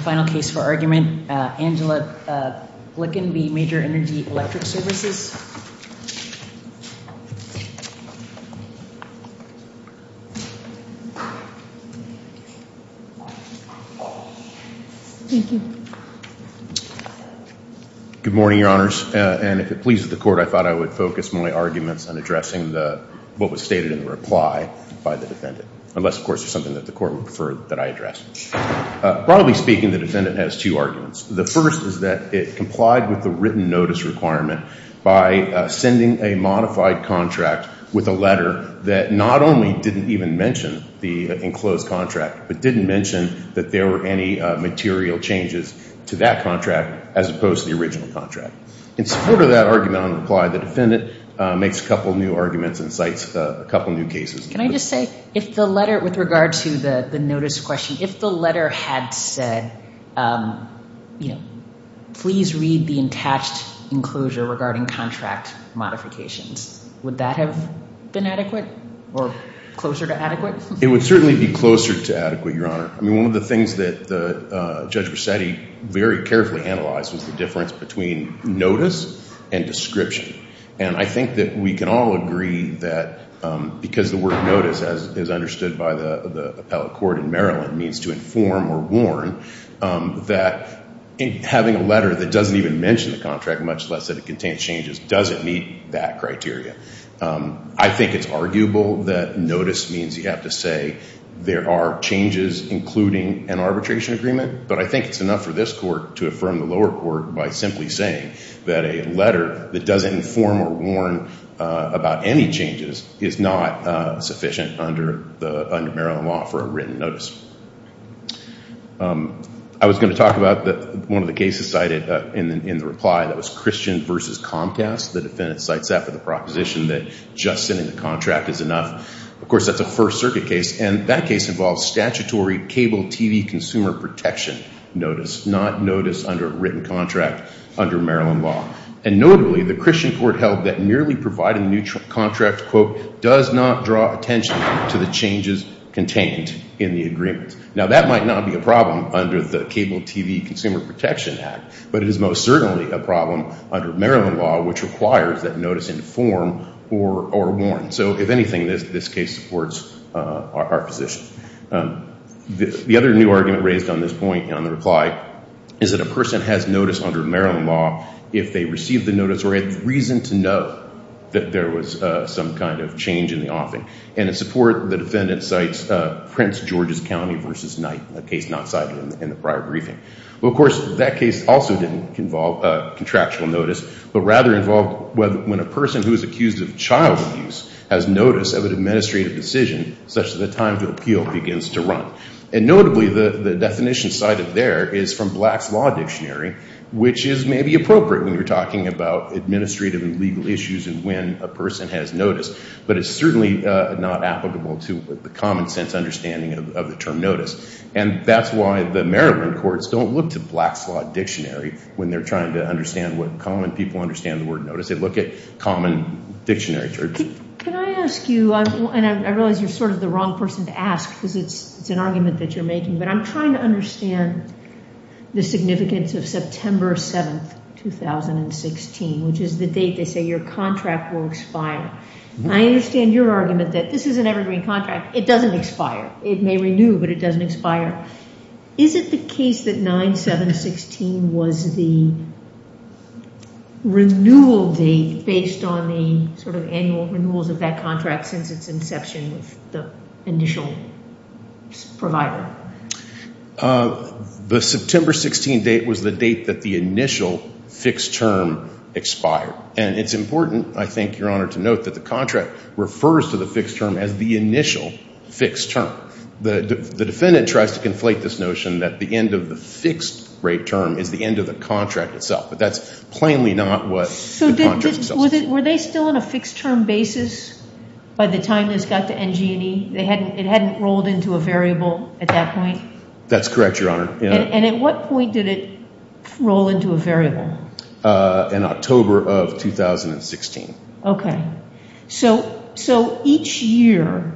Final case for argument, Angela Glikin v. Major Energy Electric Services. Good morning, your honors. And if it pleases the court, I thought I would focus my arguments on addressing what was stated in the reply by the defendant. Unless, of course, there's something that the court would prefer that I address. Broadly speaking, the defendant has two arguments. The first is that it complied with the written notice requirement by sending a modified contract with a letter that not only didn't even mention the enclosed contract, but didn't mention that there were any material changes to that contract as opposed to the original contract. In support of that argument on reply, the defendant makes a couple new arguments and cites a couple new cases. Can I just say, if the letter, with regard to the notice question, if the letter had said, you know, please read the attached enclosure regarding contract modifications, would that have been adequate or closer to adequate? It would certainly be closer to adequate, your honor. I mean, one of the things that Judge Bracetti very carefully analyzed was the difference between notice and description. And I think that we can all agree that because the word notice, as understood by the appellate court in Maryland, means to inform or warn that having a letter that doesn't even mention the contract, much less that it contains changes, doesn't meet that criteria. I think it's arguable that notice means you have to say there are changes, including an arbitration agreement. But I think it's enough for this court to affirm the lower court by simply saying that a letter that doesn't inform or warn about any changes is not sufficient under Maryland law for a written notice. I was going to talk about one of the cases cited in the reply that was Christian v. Comcast. The defendant cites that for the proposition that just sending the contract is enough. Of course, that's a First Circuit case, and that case involves statutory cable TV consumer protection notice, not notice under a written contract under Maryland law. And notably, the Christian court held that merely providing a new contract, quote, does not draw attention to the changes contained in the agreement. Now, that might not be a problem under the Cable TV Consumer Protection Act, but it is most certainly a problem under Maryland law, which requires that notice inform or warn. So if anything, this case supports our position. The other new argument raised on this point in the reply is that a person has notice under Maryland law if they receive the notice or had reason to know that there was some kind of change in the offing. And in support, the defendant cites Prince George's County v. Knight, a case not cited in the prior briefing. Well, of course, that case also didn't involve contractual notice, but rather involved when a person who is accused of child abuse has notice of an administrative decision such that the time to appeal begins to run. And notably, the definition cited there is from Black's Law Dictionary, which is maybe appropriate when you're talking about administrative and legal issues and when a person has notice, but it's certainly not applicable to the common sense understanding of the term notice. And that's why the Maryland courts don't look to Black's Law Dictionary when they're trying to understand what common people understand the word notice. They look at common dictionary terms. Can I ask you, and I realize you're sort of the wrong person to ask because it's an argument that you're making, but I'm trying to understand the significance of September 7, 2016, which is the date they say your contract will expire. I understand your argument that this is an evergreen contract. It doesn't expire. It may renew, but it doesn't expire. Is it the case that 9-7-16 was the renewal date based on the sort of annual renewals of that contract since its inception with the initial provider? The September 16 date was the date that the initial fixed term expired. And it's important, I think, Your Honor, to note that the contract refers to the fixed term as the initial fixed term. The defendant tries to conflate this notion that the end of the fixed rate term is the end of the contract itself, but that's plainly not what the contract itself is. So were they still on a fixed term basis by the time this got to NG&E? It hadn't rolled into a variable at that point? That's correct, Your Honor. And at what point did it roll into a variable? In October of 2016. Okay. So each year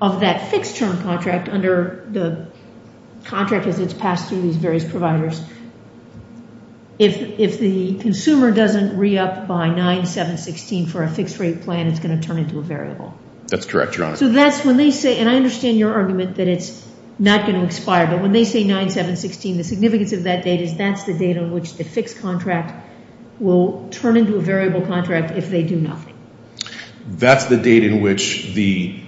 of that fixed term contract under the contract as it's passed through these various providers, if the consumer doesn't re-up by 9-7-16 for a fixed rate plan, it's going to turn into a variable. That's correct, Your Honor. So that's when they say, and I understand your argument that it's not going to expire, but when they say 9-7-16, the significance of that date is that's the date on which the fixed contract will turn into a variable contract if they do nothing. That's the date in which the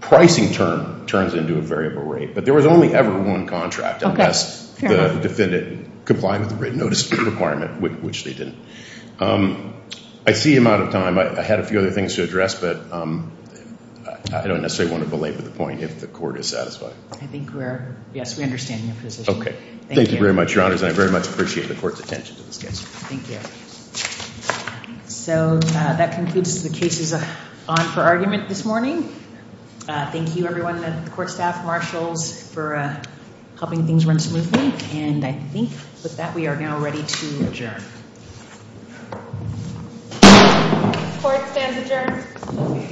pricing term turns into a variable rate, but there was only ever one contract unless the defendant complied with the written notice requirement, which they didn't. I see I'm out of time. I had a few other things to address, but I don't necessarily want to belabor the point if the Court is satisfied. I think we're, yes, we understand your position. Okay. Thank you. Thank you very much, Your Honors. And I very much appreciate the Court's attention to this case. Thank you. So that concludes the cases on for argument this morning. Thank you, everyone, the Court staff, marshals, for helping things run smoothly. And I think with that, we are now ready to adjourn. Court stands adjourned.